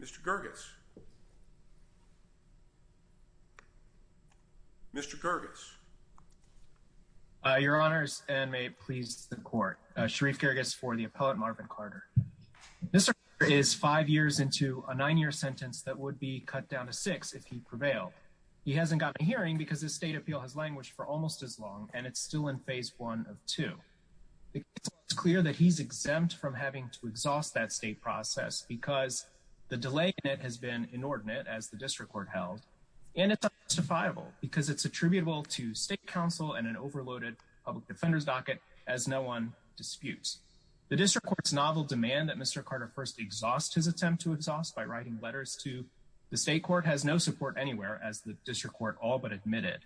Mr. Kyrgios, Mr. Kyrgios. Your honors, and may it please the court, Sharif Kyrgios for the appellate Marvin Carter. Mr. Carter is five years into a nine-year sentence that would be cut down to six if he prevailed. He hasn't gotten a hearing because his state appeal has languished for almost as long, and it's still in phase one of two. It's clear that he's exempt from having to exhaust that state process because the delay in it has been inordinate, as the district court held, and it's unjustifiable because it's attributable to state counsel and an overloaded public The district court's novel demand that Mr. Carter first exhaust his attempt to exhaust by writing letters to the state court has no support anywhere, as the district court all but admitted,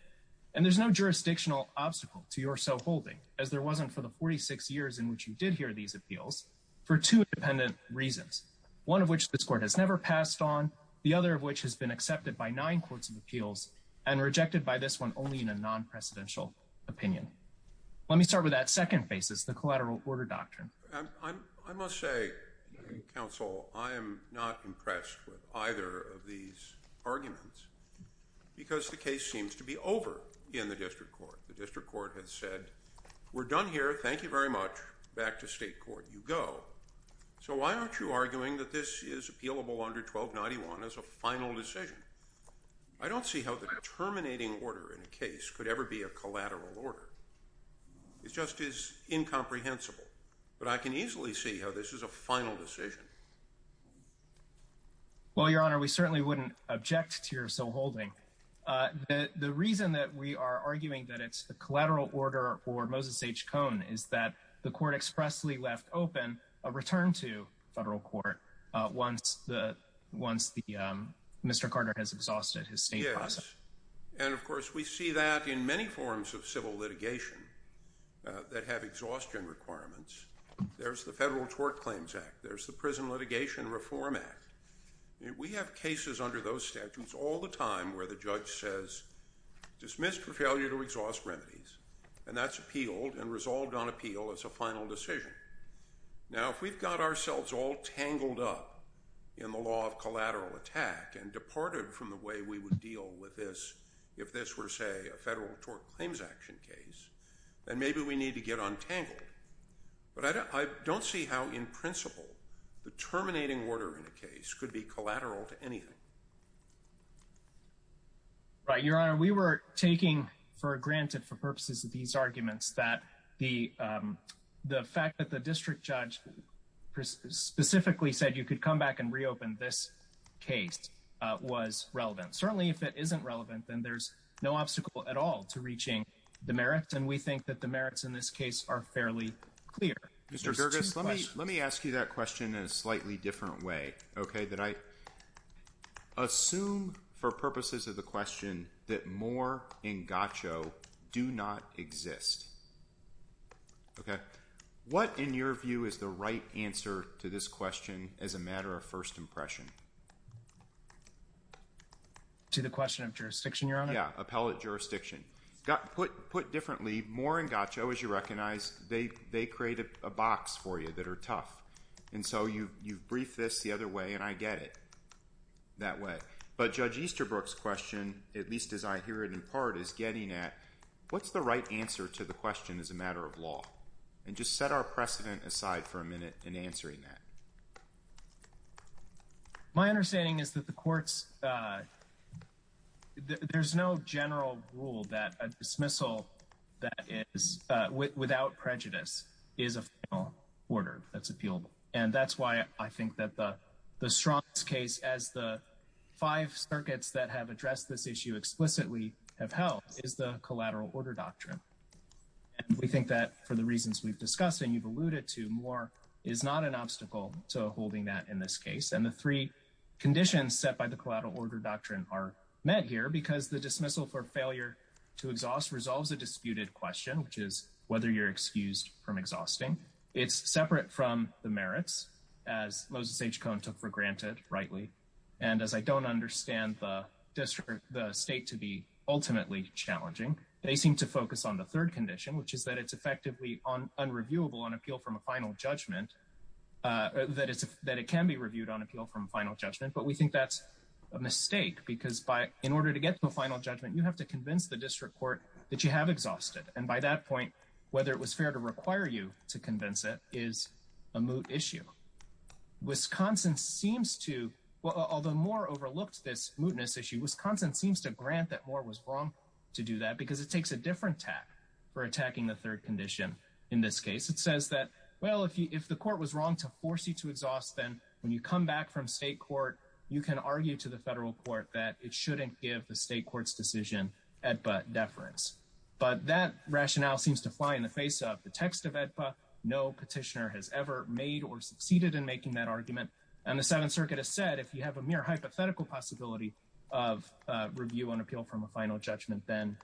and there's no jurisdictional obstacle to your so-holding, as there wasn't for the 46 years in which you did hear these appeals, for two independent reasons, one of which this court has never passed on, the other of which has been accepted by nine courts of appeals and rejected by this one only in a non-precedential opinion. Let me start with that second basis, the collateral order doctrine. I must say, counsel, I am not impressed with either of these arguments because the case seems to be over in the district court. The district court has said, we're done here, thank you very much, back to state court you go. So why aren't you arguing that this is appealable under 1291 as a final decision? I don't see how the terminating order in a case could ever be a collateral order. It just is incomprehensible, but I can easily see how this is a final decision. Well, your honor, we certainly wouldn't object to your so-holding. The reason that we are arguing that it's a collateral order for Moses H. Cohn is that the court expressly left open a return to federal court once Mr. Carter has exhausted his state process. Yes, and of course we see that in many forms of civil litigation that have exhaustion requirements. There's the Federal Tort Claims Act, there's the Prison Litigation Reform Act. We have cases under those statutes all the time where the judge says, dismissed for failure to exhaust remedies, and that's appealed and resolved on appeal as a final decision. Now if we've got ourselves all tangled up in the law of collateral attack and departed from the way we would deal with this if this were, say, a Federal Tort Claims Action case, then maybe we need to get untangled. But I don't see how in principle the terminating order in a case could be collateral to anything. Right, your honor, we were taking for granted for purposes of these arguments that the fact that the district judge specifically said you could come back and reopen this case was relevant. Certainly, if it isn't relevant, then there's no obstacle at all to reaching the merits, and we think that the merits in this case are fairly clear. Mr. Gerges, let me let me ask you that question in a slightly different way, okay, that I assume for purposes of the question that Moore and Gaccio do not exist. Okay, what in your view is the right answer to this question as a matter of first impression? To the question of jurisdiction, your honor? Yeah, appellate jurisdiction. Put differently, Moore and Gaccio, as you recognize, they create a box for you that are tough. And so you've briefed this the other way, and I get it that way. But Judge Easterbrook's question, at least as I hear it in part, is getting at what's the right answer to the question as a matter of law? And just set our precedent aside for a minute in answering that. My understanding is that the courts, there's no general rule that a dismissal that is without prejudice is a formal order that's appealable. And that's why I think that the strongest case as the five circuits that have addressed this issue explicitly have held is the collateral order doctrine. And we think that for the reasons we've discussed and you've alluded to, Moore is not an obstacle to holding that in this case. And the three conditions set by the collateral order doctrine are met here because the dismissal for failure to exhaust resolves a disputed question, which is whether you're excused from exhausting. It's separate from the merits, as Moses H. Cohn took for granted, rightly. And as I don't understand the state to be ultimately challenging, they seem to focus on the third condition, which is that it's effectively unreviewable on appeal from a final judgment. That it can be reviewed on appeal from a final judgment. But we think that's a mistake because in order to get to a final judgment, you have to by that point, whether it was fair to require you to convince it is a moot issue. Wisconsin seems to, although Moore overlooked this mootness issue, Wisconsin seems to grant that Moore was wrong to do that because it takes a different tack for attacking the third condition. In this case, it says that, well, if the court was wrong to force you to exhaust, then when you come back from state court, you can argue to the federal court that it shouldn't give the state court's AEDPA deference. But that rationale seems to fly in the face of the text of AEDPA. No petitioner has ever made or succeeded in making that argument. And the Seventh Circuit has said, if you have a mere hypothetical possibility of review on appeal from a final judgment, then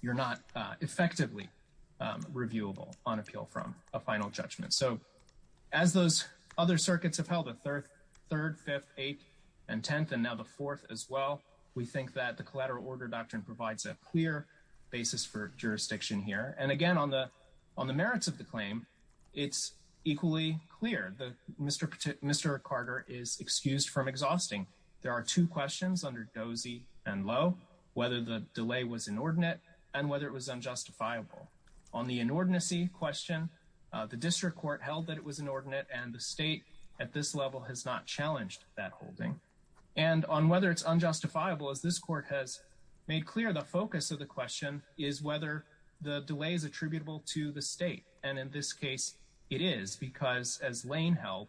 you're not effectively reviewable on appeal from a final judgment. So as those other circuits have held a third, fifth, eighth, and tenth, and now the fourth as well, we think that the collateral order doctrine provides a clear basis for jurisdiction here. And again, on the merits of the claim, it's equally clear that Mr. Carter is excused from exhausting. There are two questions under dozy and low, whether the delay was inordinate and whether it was unjustifiable. On the inordinacy question, the district court held that it was inordinate and the state at this made clear the focus of the question is whether the delay is attributable to the state. And in this case, it is because as Lane held,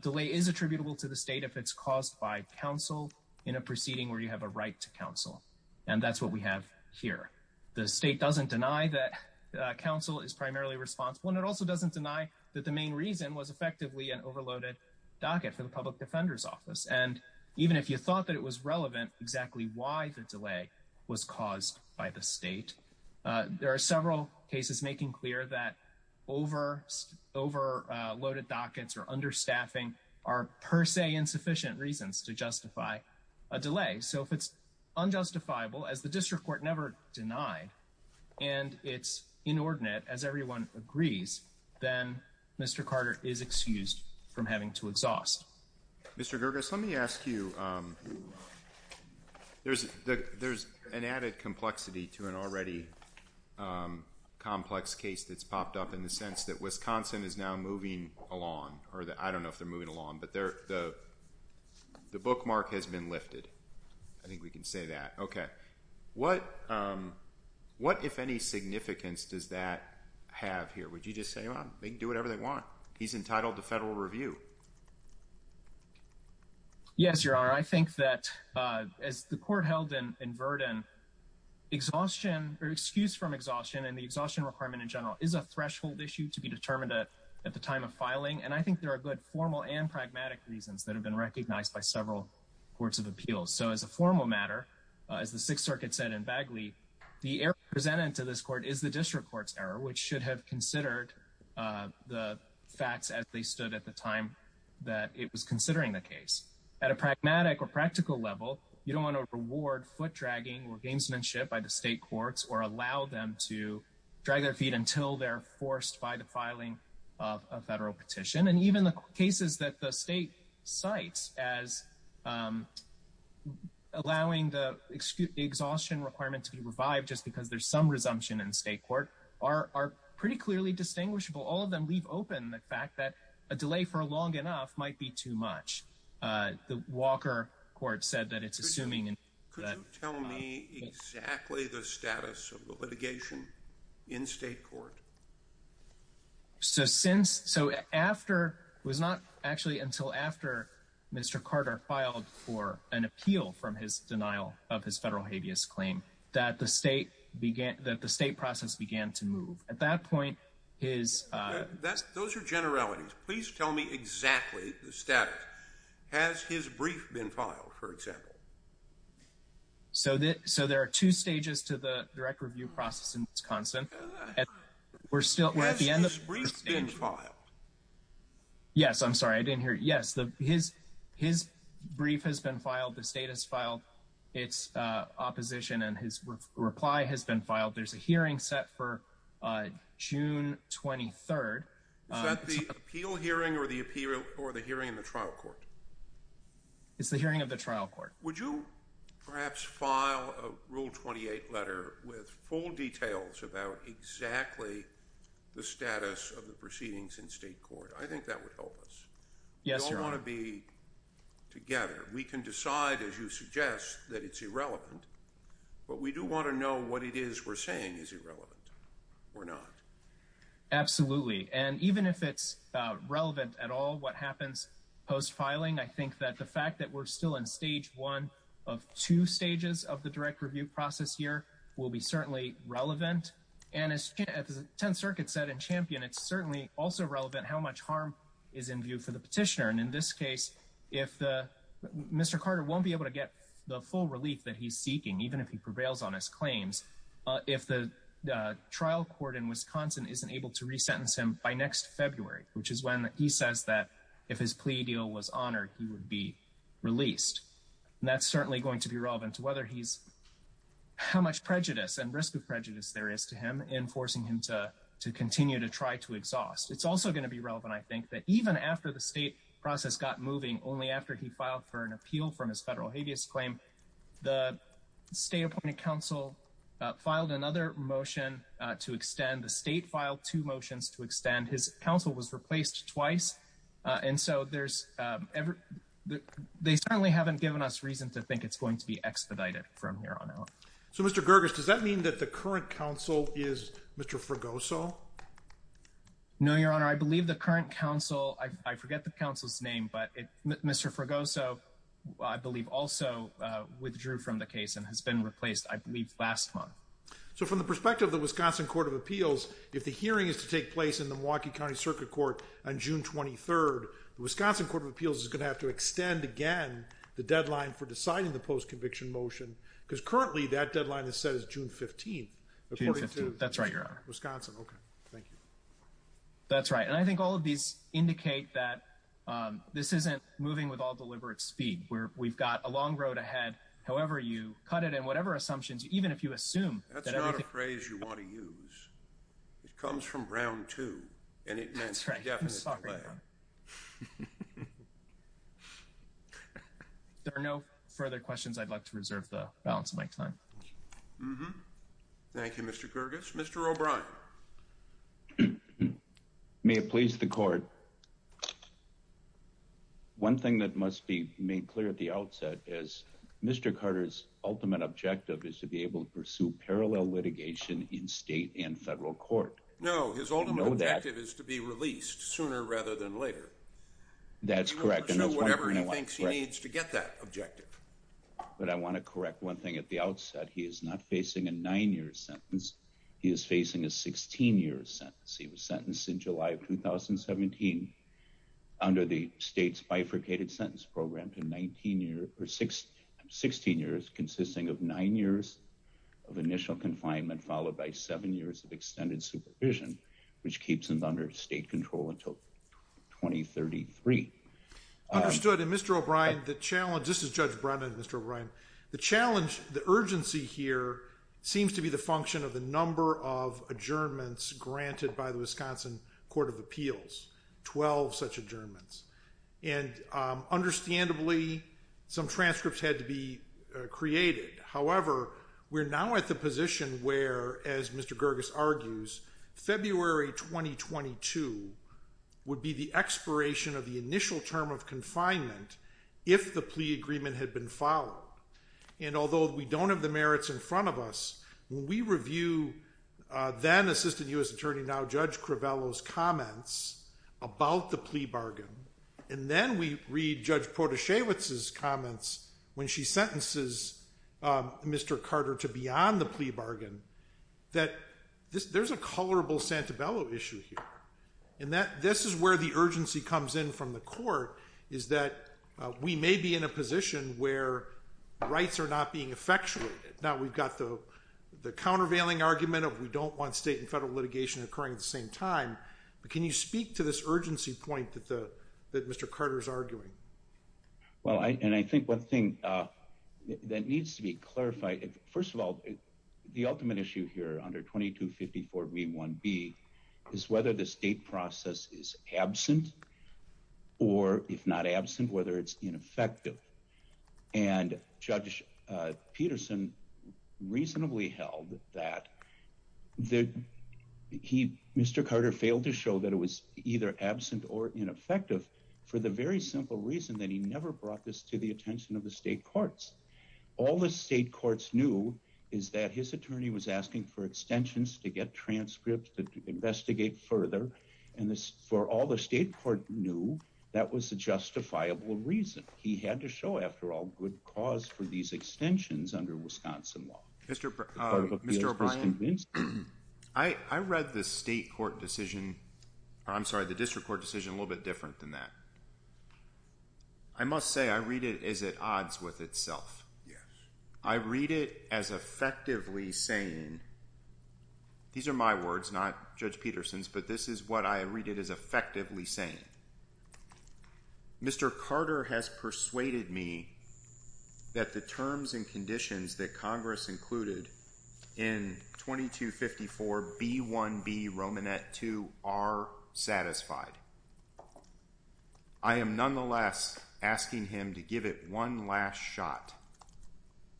delay is attributable to the state if it's caused by counsel in a proceeding where you have a right to counsel. And that's what we have here. The state doesn't deny that counsel is primarily responsible. And it also doesn't deny that the main reason was effectively an overloaded docket for the public defender's office. And even if you thought that was relevant, exactly why the delay was caused by the state. There are several cases making clear that over overloaded dockets or understaffing are per se insufficient reasons to justify a delay. So if it's unjustifiable as the district court never denied, and it's inordinate as everyone agrees, then Mr. Carter is excused from having to exhaust. Mr. Gerges, let me ask you there's an added complexity to an already complex case that's popped up in the sense that Wisconsin is now moving along, or I don't know if they're moving along, but the bookmark has been lifted. I think we can say that. Okay. What, if any, significance does that have here? Would you just say, well, they can do whatever they want. He's entitled to federal review. Yes, your honor. I think that as the court held in Verdon, exhaustion or excuse from exhaustion and the exhaustion requirement in general is a threshold issue to be determined at the time of filing. And I think there are good formal and pragmatic reasons that have been recognized by several courts of appeals. So as a formal matter, as the sixth circuit said in Bagley, the error presented to this court is the district court's error, which should have considered the facts as they stood at the time of the appeal. That it was considering the case at a pragmatic or practical level. You don't want to reward foot dragging or gamesmanship by the state courts or allow them to drag their feet until they're forced by the filing of a federal petition. And even the cases that the state sites as allowing the exhaustion requirements to be revived, just because there's some resumption in state court are pretty clearly distinguishable. All of them leave open the fact that a delay for long enough might be too much. The Walker court said that it's assuming. And could you tell me exactly the status of the litigation in state court? So since, so after it was not actually until after Mr. Carter filed for an appeal from his denial of his federal habeas claim that the state began, that the state process began to move. At exactly the status. Has his brief been filed, for example? So that, so there are two stages to the direct review process in Wisconsin. We're still, we're at the end of the brief. Yes, I'm sorry. I didn't hear. Yes, the, his, his brief has been filed. The state has filed its opposition and his reply has been filed. There's a hearing set for June 23rd. Is that the appeal hearing or the appeal or the hearing in the trial court? It's the hearing of the trial court. Would you perhaps file a rule 28 letter with full details about exactly the status of the proceedings in state court? I think that would help us. Yes. You don't want to be together. We can decide as you suggest that it's irrelevant, but we do want to know what it is we're saying is irrelevant. We're not. Absolutely. And even if it's relevant at all, what happens post filing, I think that the fact that we're still in stage one of two stages of the direct review process here will be certainly relevant. And as the 10th circuit said in champion, it's certainly also relevant how much harm is in view for the petitioner. And in this case, if Mr. Carter won't be able to get the full relief that he's seeking, even if he prevails on his claims, uh, if the, uh, trial court in Wisconsin, isn't able to resentence him by next February, which is when he says that if his plea deal was honored, he would be released. And that's certainly going to be relevant to whether he's how much prejudice and risk of prejudice there is to him in forcing him to, to continue to try to exhaust. It's also going to be relevant. I think that even after the state process got moving only after he filed for an appeal from his federal habeas claim, the state appointed council filed another motion to extend the state file, two motions to extend his council was replaced twice. Uh, and so there's, um, every, they certainly haven't given us reason to think it's going to be expedited from here on out. So Mr. Gergis, does that mean that the current council is Mr. Fregoso? No, your honor. I believe the current council, I forget the council's name, but Mr. Fregoso, I believe also, uh, withdrew from the case and has been replaced, I believe last month. So from the perspective of the Wisconsin court of appeals, if the hearing is to take place in the Milwaukee County circuit court on June 23rd, the Wisconsin court of appeals is going to have to extend again, the deadline for deciding the post-conviction motion. Cause currently that deadline is set as June 15th. That's right, your honor. Wisconsin. Okay. Thank you. That's right. And I think all of these indicate that, um, this isn't moving with all deliberate speed where we've got a long road ahead. However, you cut it in whatever assumptions, even if you assume that's not a phrase you want to use, it comes from round two. And it means there are no further questions. I'd like to reserve the balance of my time. Thank you, Mr. Kyrgios. Mr. O'Brien. May it please the court. One thing that must be made clear at the outset is Mr. Carter's ultimate objective is to be able to pursue parallel litigation in state and federal court. No, his ultimate objective is to be released sooner rather than later. That's correct. And that's whatever he thinks he needs to get that sentence. He is facing a nine-year sentence. He is facing a 16-year sentence. He was sentenced in July of 2017 under the state's bifurcated sentence program to 19 years or six, 16 years, consisting of nine years of initial confinement followed by seven years of extended supervision, which keeps him under state control until 2033. Understood. And Mr. O'Brien, the challenge, this is Judge Brennan and Mr. O'Brien, the challenge, the urgency here seems to be the function of the number of adjournments granted by the Wisconsin Court of Appeals, 12 such adjournments. And understandably, some transcripts had to be created. However, we're now at the position where, as Mr. Kyrgios argues, February 2022 would be the expiration of the initial term of confinement if the plea agreement had been followed. And although we don't have the merits in front of us, when we review then Assistant U.S. Attorney, now Judge Crivello's comments about the plea bargain, and then we read Judge Protasiewicz's comments when she sentences Mr. Carter to be on the plea bargain, that there's a colorable Santabello issue here. And this is where the urgency comes in from the court, is that we may be in a position where rights are not being effectuated. Now, we've got the countervailing argument of we don't want state and federal litigation occurring at the same time, but can you speak to this urgency point that Mr. Carter's arguing? Well, and I think one thing that needs to be clarified, first of all, the ultimate issue here under 2254b1b is whether the state process is absent or if not absent, whether it's ineffective. And Judge Peterson reasonably held that Mr. Carter failed to show that it was either absent or ineffective for the very simple reason that he never brought this to the attention of the state courts. All the state courts knew is that his attorney was asking for extensions to get transcripts to investigate further, and for all the state court knew, that was a justifiable reason. He had to show, after all, good cause for these extensions under Wisconsin law. Mr. O'Brien, I read the state court decision, I'm sorry, the district court decision a little bit different than that. I must say, I read it as at odds with itself. I read it as effectively saying, these are my words, not Judge Peterson's, but this is what I read it as effectively saying. Mr. Carter has persuaded me that the terms and conditions that I am, nonetheless, asking him to give it one last shot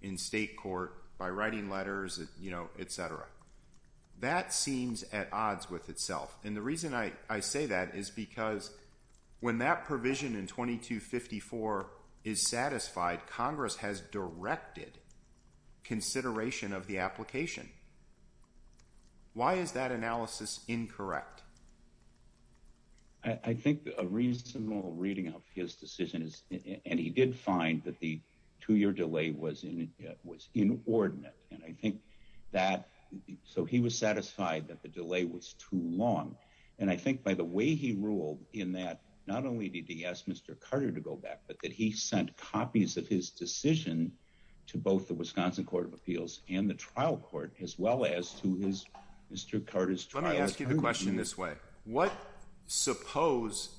in state court by writing letters, you know, etc. That seems at odds with itself. And the reason I say that is because when that provision in 2254 is satisfied, Congress has directed consideration of the application. Why is that analysis incorrect? I think a reasonable reading of his decision is, and he did find that the two-year delay was inordinate. And I think that, so he was satisfied that the delay was too long. And I think by the way he ruled in that, not only did he ask Mr. Carter to go back, but that he sent copies of his decision to both the Wisconsin Court of Appeals as well as to his, Mr. Carter's trial. Let me ask you the question this way. What, suppose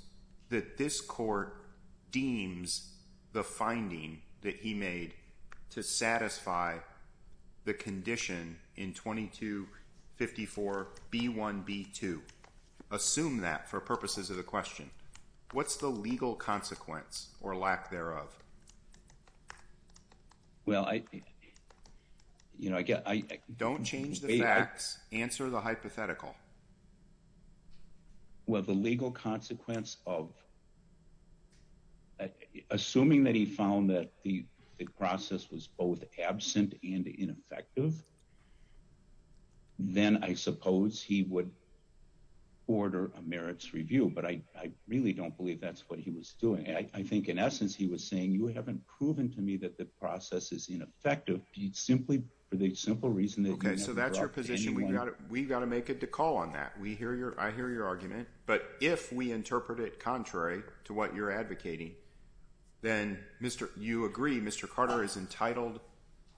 that this court deems the finding that he made to satisfy the condition in 2254B1B2, assume that for purposes of the question. What's the legal consequence or lack thereof? Well, I, you know, I get, I, don't change the facts, answer the hypothetical. Well, the legal consequence of assuming that he found that the process was both absent and ineffective, then I suppose he would order a merits review, but I really don't believe that's what he's doing. I think in essence, he was saying, you haven't proven to me that the process is ineffective. He'd simply, for the simple reason that he never brought anyone. Okay, so that's your position. We've got to, we've got to make a call on that. We hear your, I hear your argument, but if we interpret it contrary to what you're advocating, then Mr., you agree Mr. Carter is entitled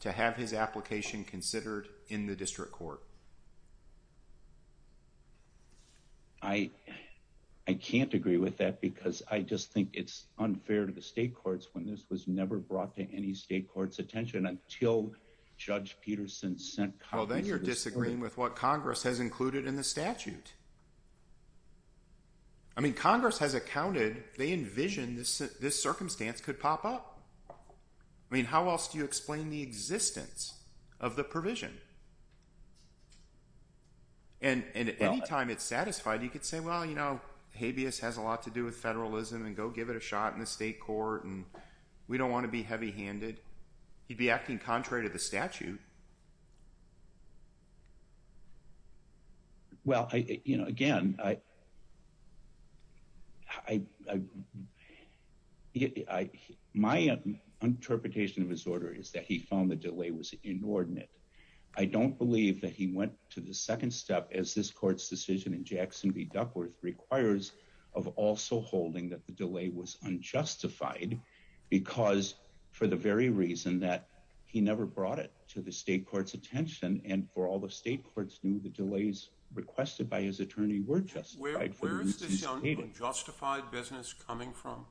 to have his application considered in the district court? I, I can't agree with that because I just think it's unfair to the state courts when this was never brought to any state court's attention until Judge Peterson sent Congress. Well, then you're disagreeing with what Congress has included in the statute. I mean, Congress has accounted, they envisioned this, this circumstance could pop up. I mean, how else do you explain the existence of the provision? And, and anytime it's satisfied, you could say, well, you know, habeas has a lot to do with federalism and go give it a shot in the state court and we don't want to be heavy handed. He'd be acting contrary to the statute. Well, I, you know, again, I, I, I, I, my interpretation of his I don't believe that he went to the second step as this court's decision in Jackson v. Duckworth requires of also holding that the delay was unjustified because for the very reason that he never brought it to the state court's attention and for all the state courts knew the delays requested by his attorney were justified. Where is this unjustified business coming from?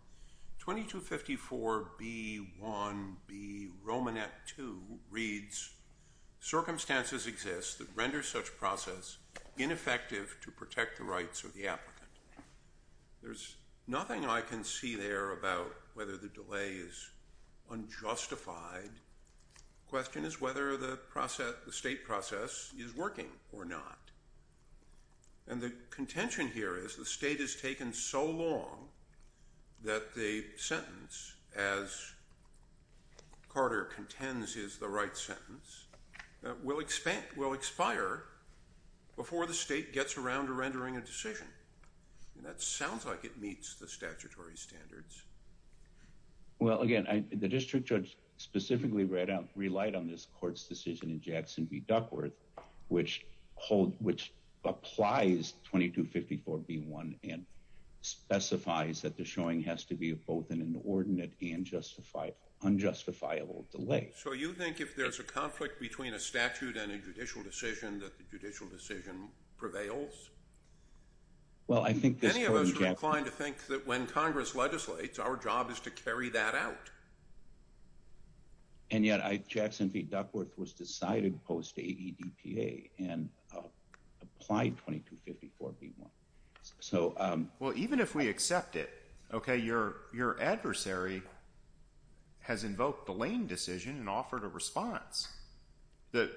2254 B1B Romanet 2 reads circumstances exist that render such process ineffective to protect the rights of the applicant. There's nothing I can see there about whether the delay is unjustified. Question is whether the process, the state process is working or not. And the contention here is the state has taken so long that the sentence as Carter contends is the right sentence that will expand, will expire before the state gets around to rendering a decision. And that sounds like it meets the statutory standards. Well, again, I, the district judge specifically read out, relied on this court's decision in Jackson v. Duckworth, which hold, which applies 2254 B1 and specifies that the showing has to be both in an ordinate and justified unjustifiable delay. So you think if there's a conflict between a statute and a judicial decision that the judicial decision prevails? Well, I think many of us are inclined to think that when Congress legislates, our job is to carry that out. And yet I, Jackson v. Duckworth was decided post-AEDPA and applied 2254 B1. So, um, well, even if we accept it, okay, your, your adversary has invoked the lane decision and offered a response that,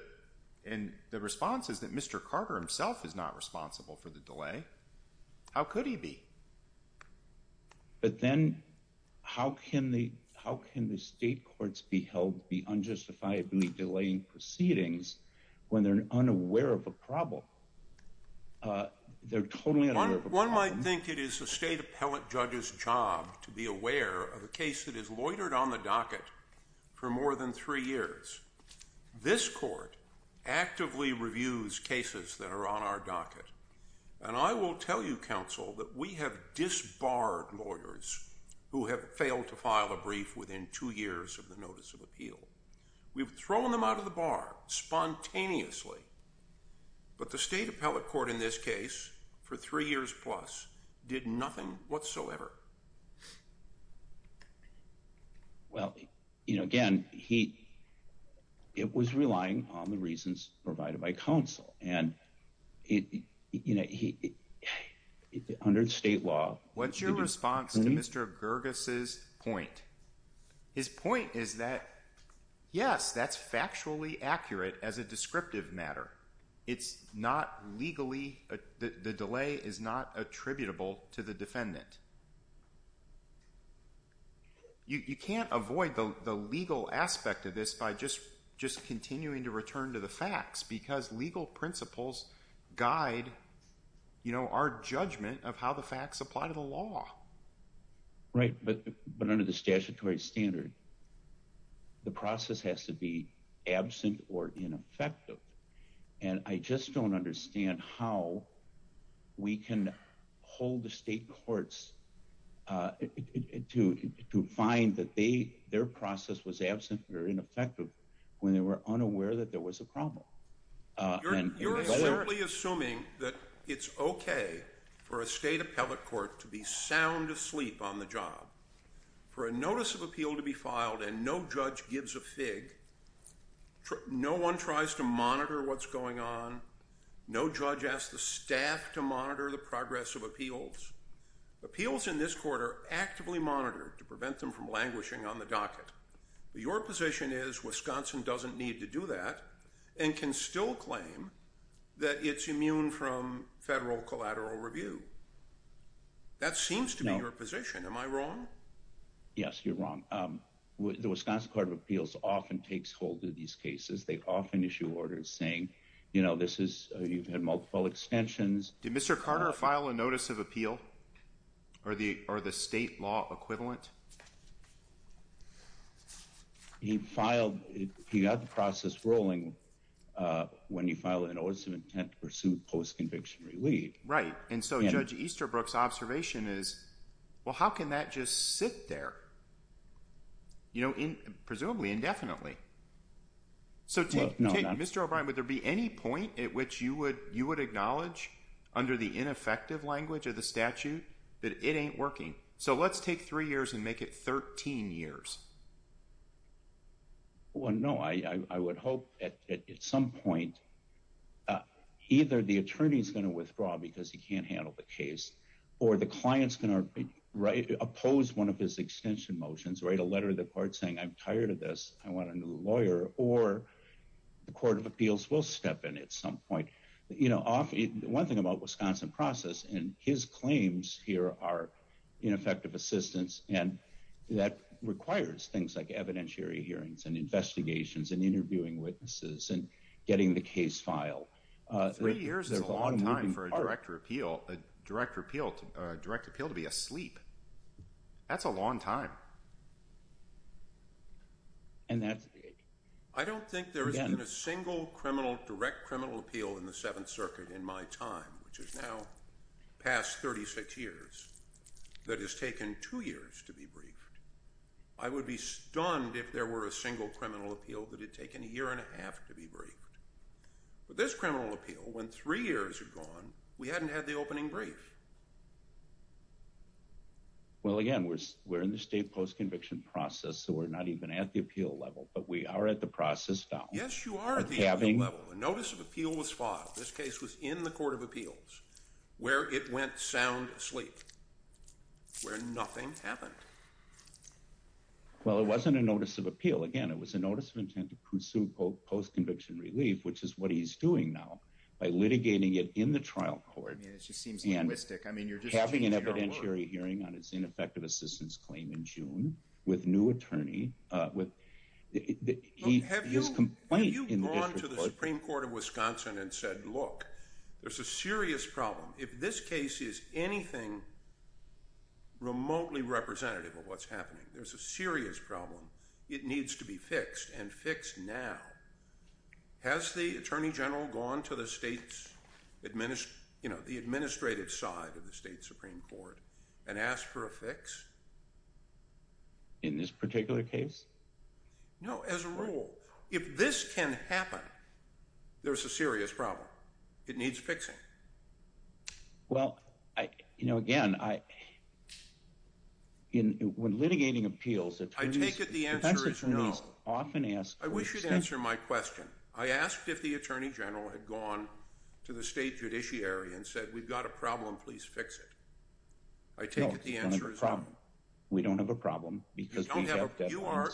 and the response is that Mr. Carter himself is not responsible for the delay. How could he be? But then how can the, how can the state courts be held, be unjustifiably delaying proceedings when they're unaware of a problem? Uh, they're totally, one might think it is a state appellate judge's job to be aware of a case that is loitered on the docket for more than three years. This court actively reviews cases that are on our docket. And I will tell you counsel that we have disbarred lawyers who have failed to file a brief within two years of the notice of appeal. We've thrown them out of the bar spontaneously, but the state appellate court in this case for three years plus did nothing whatsoever. Well, you know, again, he, it was relying on the reasons provided by counsel and it, you know, he, under state law. What's your response to Mr. Gerges' point? His point is that, yes, that's factually accurate as a descriptive matter. It's not legally, the delay is not attributable to the defendant. You, you can't avoid the, the legal aspect of this by just, just continuing to return to the facts because legal principles guide, you know, our judgment of how the facts apply to the law. Right. But, but under the statutory standard, the process has to be absent or ineffective. And I just don't understand how we can hold the state courts to, to find that they, their process was absent or ineffective when they were unaware that there was a problem. You're simply assuming that it's okay for a state appellate court to be sound asleep on the job, for a notice of appeal to be filed and no judge gives a fig. No one tries to monitor what's going on. No judge asked the staff to monitor the progress of appeals in this court are actively monitored to prevent them from languishing on the docket. Your position is Wisconsin doesn't need to do that and can still claim that it's immune from federal collateral review. That seems to be your position. Am I wrong? Yes, you're wrong. The Wisconsin Court of Appeals often takes hold of these cases. They often issue orders saying, you know, this is, you've had multiple extensions. Did Mr. Carter file a notice of appeal? Or the, or the state law equivalent? He filed, he got the process rolling when he filed a notice of intent to pursue post-conviction relief. Right. And so Judge Easterbrook's observation is, well, how can that just sit there? You know, in, presumably indefinitely. So take, Mr. O'Brien, would there be any point at which you would, you would acknowledge under the ineffective language of the statute that it ain't working? So let's take three years and make it 13 years. Well, no, I would hope at some point either the attorney's going to withdraw because he can't handle the case or the client's going to write, oppose one of his extension motions, write a letter to the court saying, I'm tired of this. I want a new lawyer or the court of appeals will step in at some point. You know, one thing about Wisconsin process and his claims here are ineffective assistance and that requires things like evidentiary hearings and investigations and interviewing witnesses and getting the case filed. Three years is a long time for a director appeal, a director appeal, a direct appeal to be asleep. That's a long time. And that's. I don't think there has been a single criminal direct criminal appeal in the seventh circuit in my time, which is now past 36 years that has taken two years to be briefed. I would be stunned if there were a single criminal appeal that had taken a year and a half to be briefed. But this criminal appeal, when three years had gone, we hadn't had the opening brief. Well, again, we're, we're in the state post-conviction process, so we're not even at the appeal level, but we are at the process down. Yes, you are. A notice of appeal was filed. This case was in the court of appeals where it went sound asleep, where nothing happened. Well, it wasn't a notice of appeal. Again, it was a notice of intent to pursue post-conviction relief, which is what he's doing now by litigating it in the trial court. I mean, it just seems linguistic. I mean, you're just having an evidentiary hearing on its ineffective assistance claim in June with new attorney, uh, with his complaint. Have you gone to the Supreme Court of Wisconsin and said, look, there's a serious problem. If this case is anything remotely representative of what's happening, there's a serious problem. It needs to be fixed and fixed now. Has the attorney general gone to the state's administer, you know, the administrative side of the state Supreme Court and asked for a fix? In this particular case? No, as a rule, if this can happen, there's a serious problem. It needs fixing. Well, I, you know, again, I, in, when litigating appeals, attorneys, I take it the answer is no. often ask. I wish you'd answer my question. I asked if the attorney general had gone to the state judiciary and said, we've got a problem, please fix it. I take it the answer is no. No, we don't have a problem. We don't have a problem. Because we have deadlines. You are,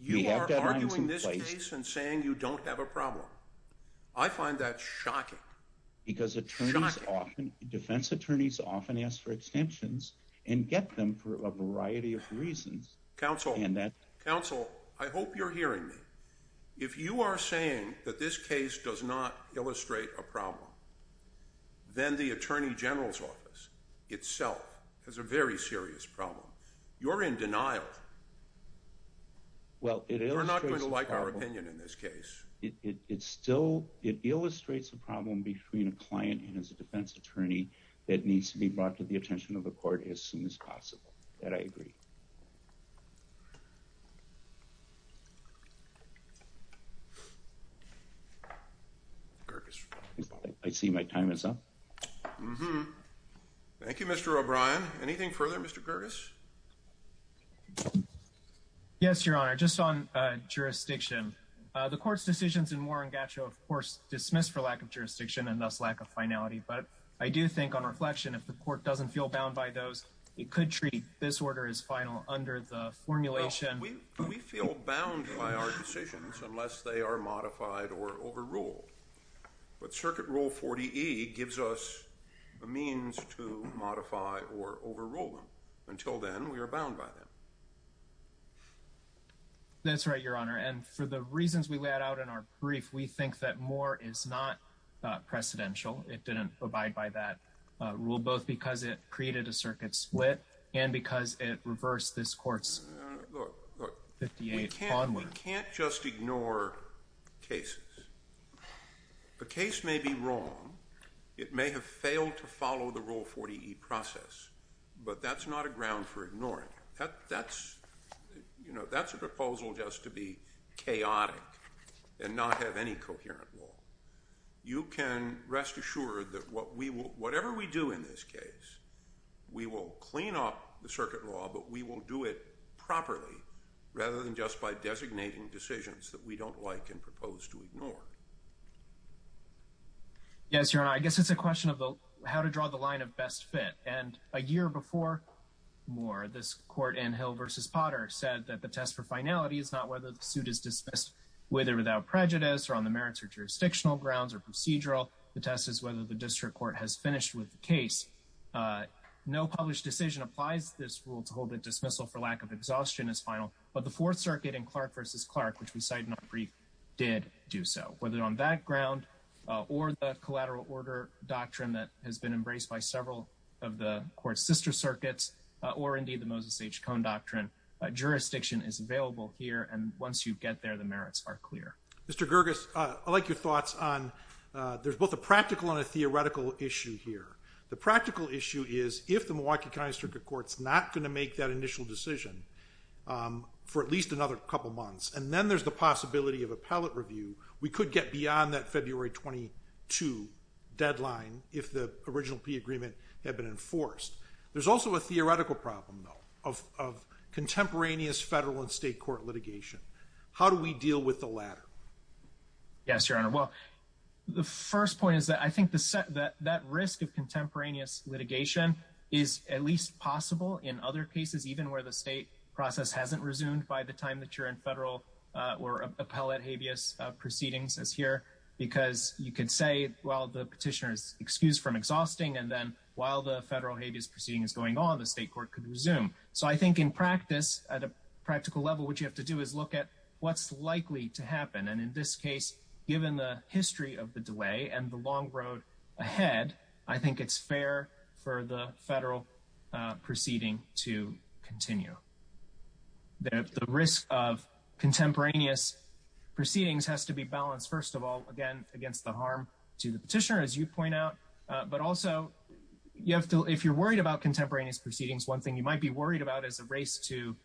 you are arguing this case and saying you don't have a problem. I find that shocking. Because attorneys often, defense attorneys often ask for extensions and get them for a variety of reasons. Counsel, counsel, I hope you're hearing me. If you are saying that this case does not illustrate a problem, then the attorney general's office itself has a very serious problem. You're in denial. Well, it illustrates a problem. You're not going to like our opinion in this case. It, it, it still, it illustrates a problem between a client and his defense attorney that needs to be brought to the attention of the court as soon as possible. That I agree. Curtis. I see my time is up. Thank you, Mr. O'Brien. Anything further, Mr. Curtis? Yes, Your Honor, just on jurisdiction. The court's decisions in Warren Gatcho, of course, dismissed for lack of jurisdiction and thus lack of finality. But I do think on reflection, if the court doesn't feel bound by those, it could treat this order as final under the formulation. We feel bound by our decisions unless they are modified or overruled. But Circuit Rule 40E gives us a means to modify or overrule them. Until then, we are bound by them. That's right, Your Honor. And for the reasons we laid out in our brief, we think that more is not precedential. It didn't abide by that rule, both because it created a circuit split and because it reversed this court's 58 onward. We can't just ignore cases. The case may be wrong. It may have failed to follow the Rule 40E process, but that's not a ground for ignoring it. That's a proposal just to be chaotic and not have any circuit law, but we will do it properly rather than just by designating decisions that we don't like and propose to ignore. Yes, Your Honor, I guess it's a question of how to draw the line of best fit. And a year before Moore, this court in Hill v. Potter said that the test for finality is not whether the suit is dismissed, whether without prejudice or on the merits or jurisdictional grounds or procedural. The test is whether the district court has finished with the case. No published decision applies to this rule to hold a dismissal for lack of exhaustion as final, but the Fourth Circuit in Clark v. Clark, which we cite in our brief, did do so. Whether on that ground or the collateral order doctrine that has been embraced by several of the court's sister circuits or indeed the Moses H. Cone doctrine, jurisdiction is available here, and once you get there, the merits are clear. Mr. Gerges, I'd like your thoughts on, there's both a practical and a practical issue is if the Milwaukee County Circuit Court's not going to make that initial decision for at least another couple months, and then there's the possibility of appellate review, we could get beyond that February 22 deadline if the original P agreement had been enforced. There's also a theoretical problem, though, of contemporaneous federal and state court litigation. How do we deal with the latter? Yes, Your Honor. Well, the first point is that I think that risk of contemporaneous litigation is at least possible in other cases, even where the state process hasn't resumed by the time that you're in federal or appellate habeas proceedings as here, because you could say, well, the petitioner is excused from exhausting, and then while the federal habeas proceeding is going on, the state court could resume. So I think in practice, at a practical level, what you have to do is look at what's likely to happen, and in this case, given the history of the delay and the long road ahead, I think it's fair for the federal proceeding to continue. The risk of contemporaneous proceedings has to be balanced, first of all, again, against the harm to the petitioner, as you point out, but also if you're worried about contemporaneous proceedings, one thing you might be worried about is a race to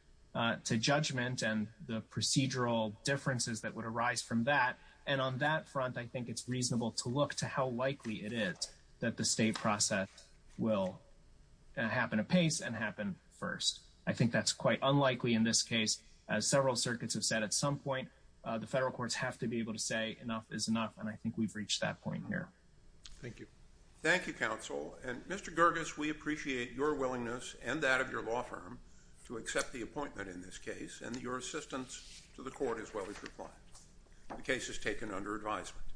judgment and the procedural differences that would arise from that, and on that front, I think it's reasonable to look to how likely it is that the state process will happen apace and happen first. I think that's quite unlikely in this case. As several circuits have said at some point, the federal courts have to be able to say enough is enough, and I think we've reached that point here. Thank you. Thank you, counsel, and Mr. Gerges, we appreciate your willingness and that of your law firm to accept the appointment in this case, and your assistance to the court as well as your client. The case is taken under advisement.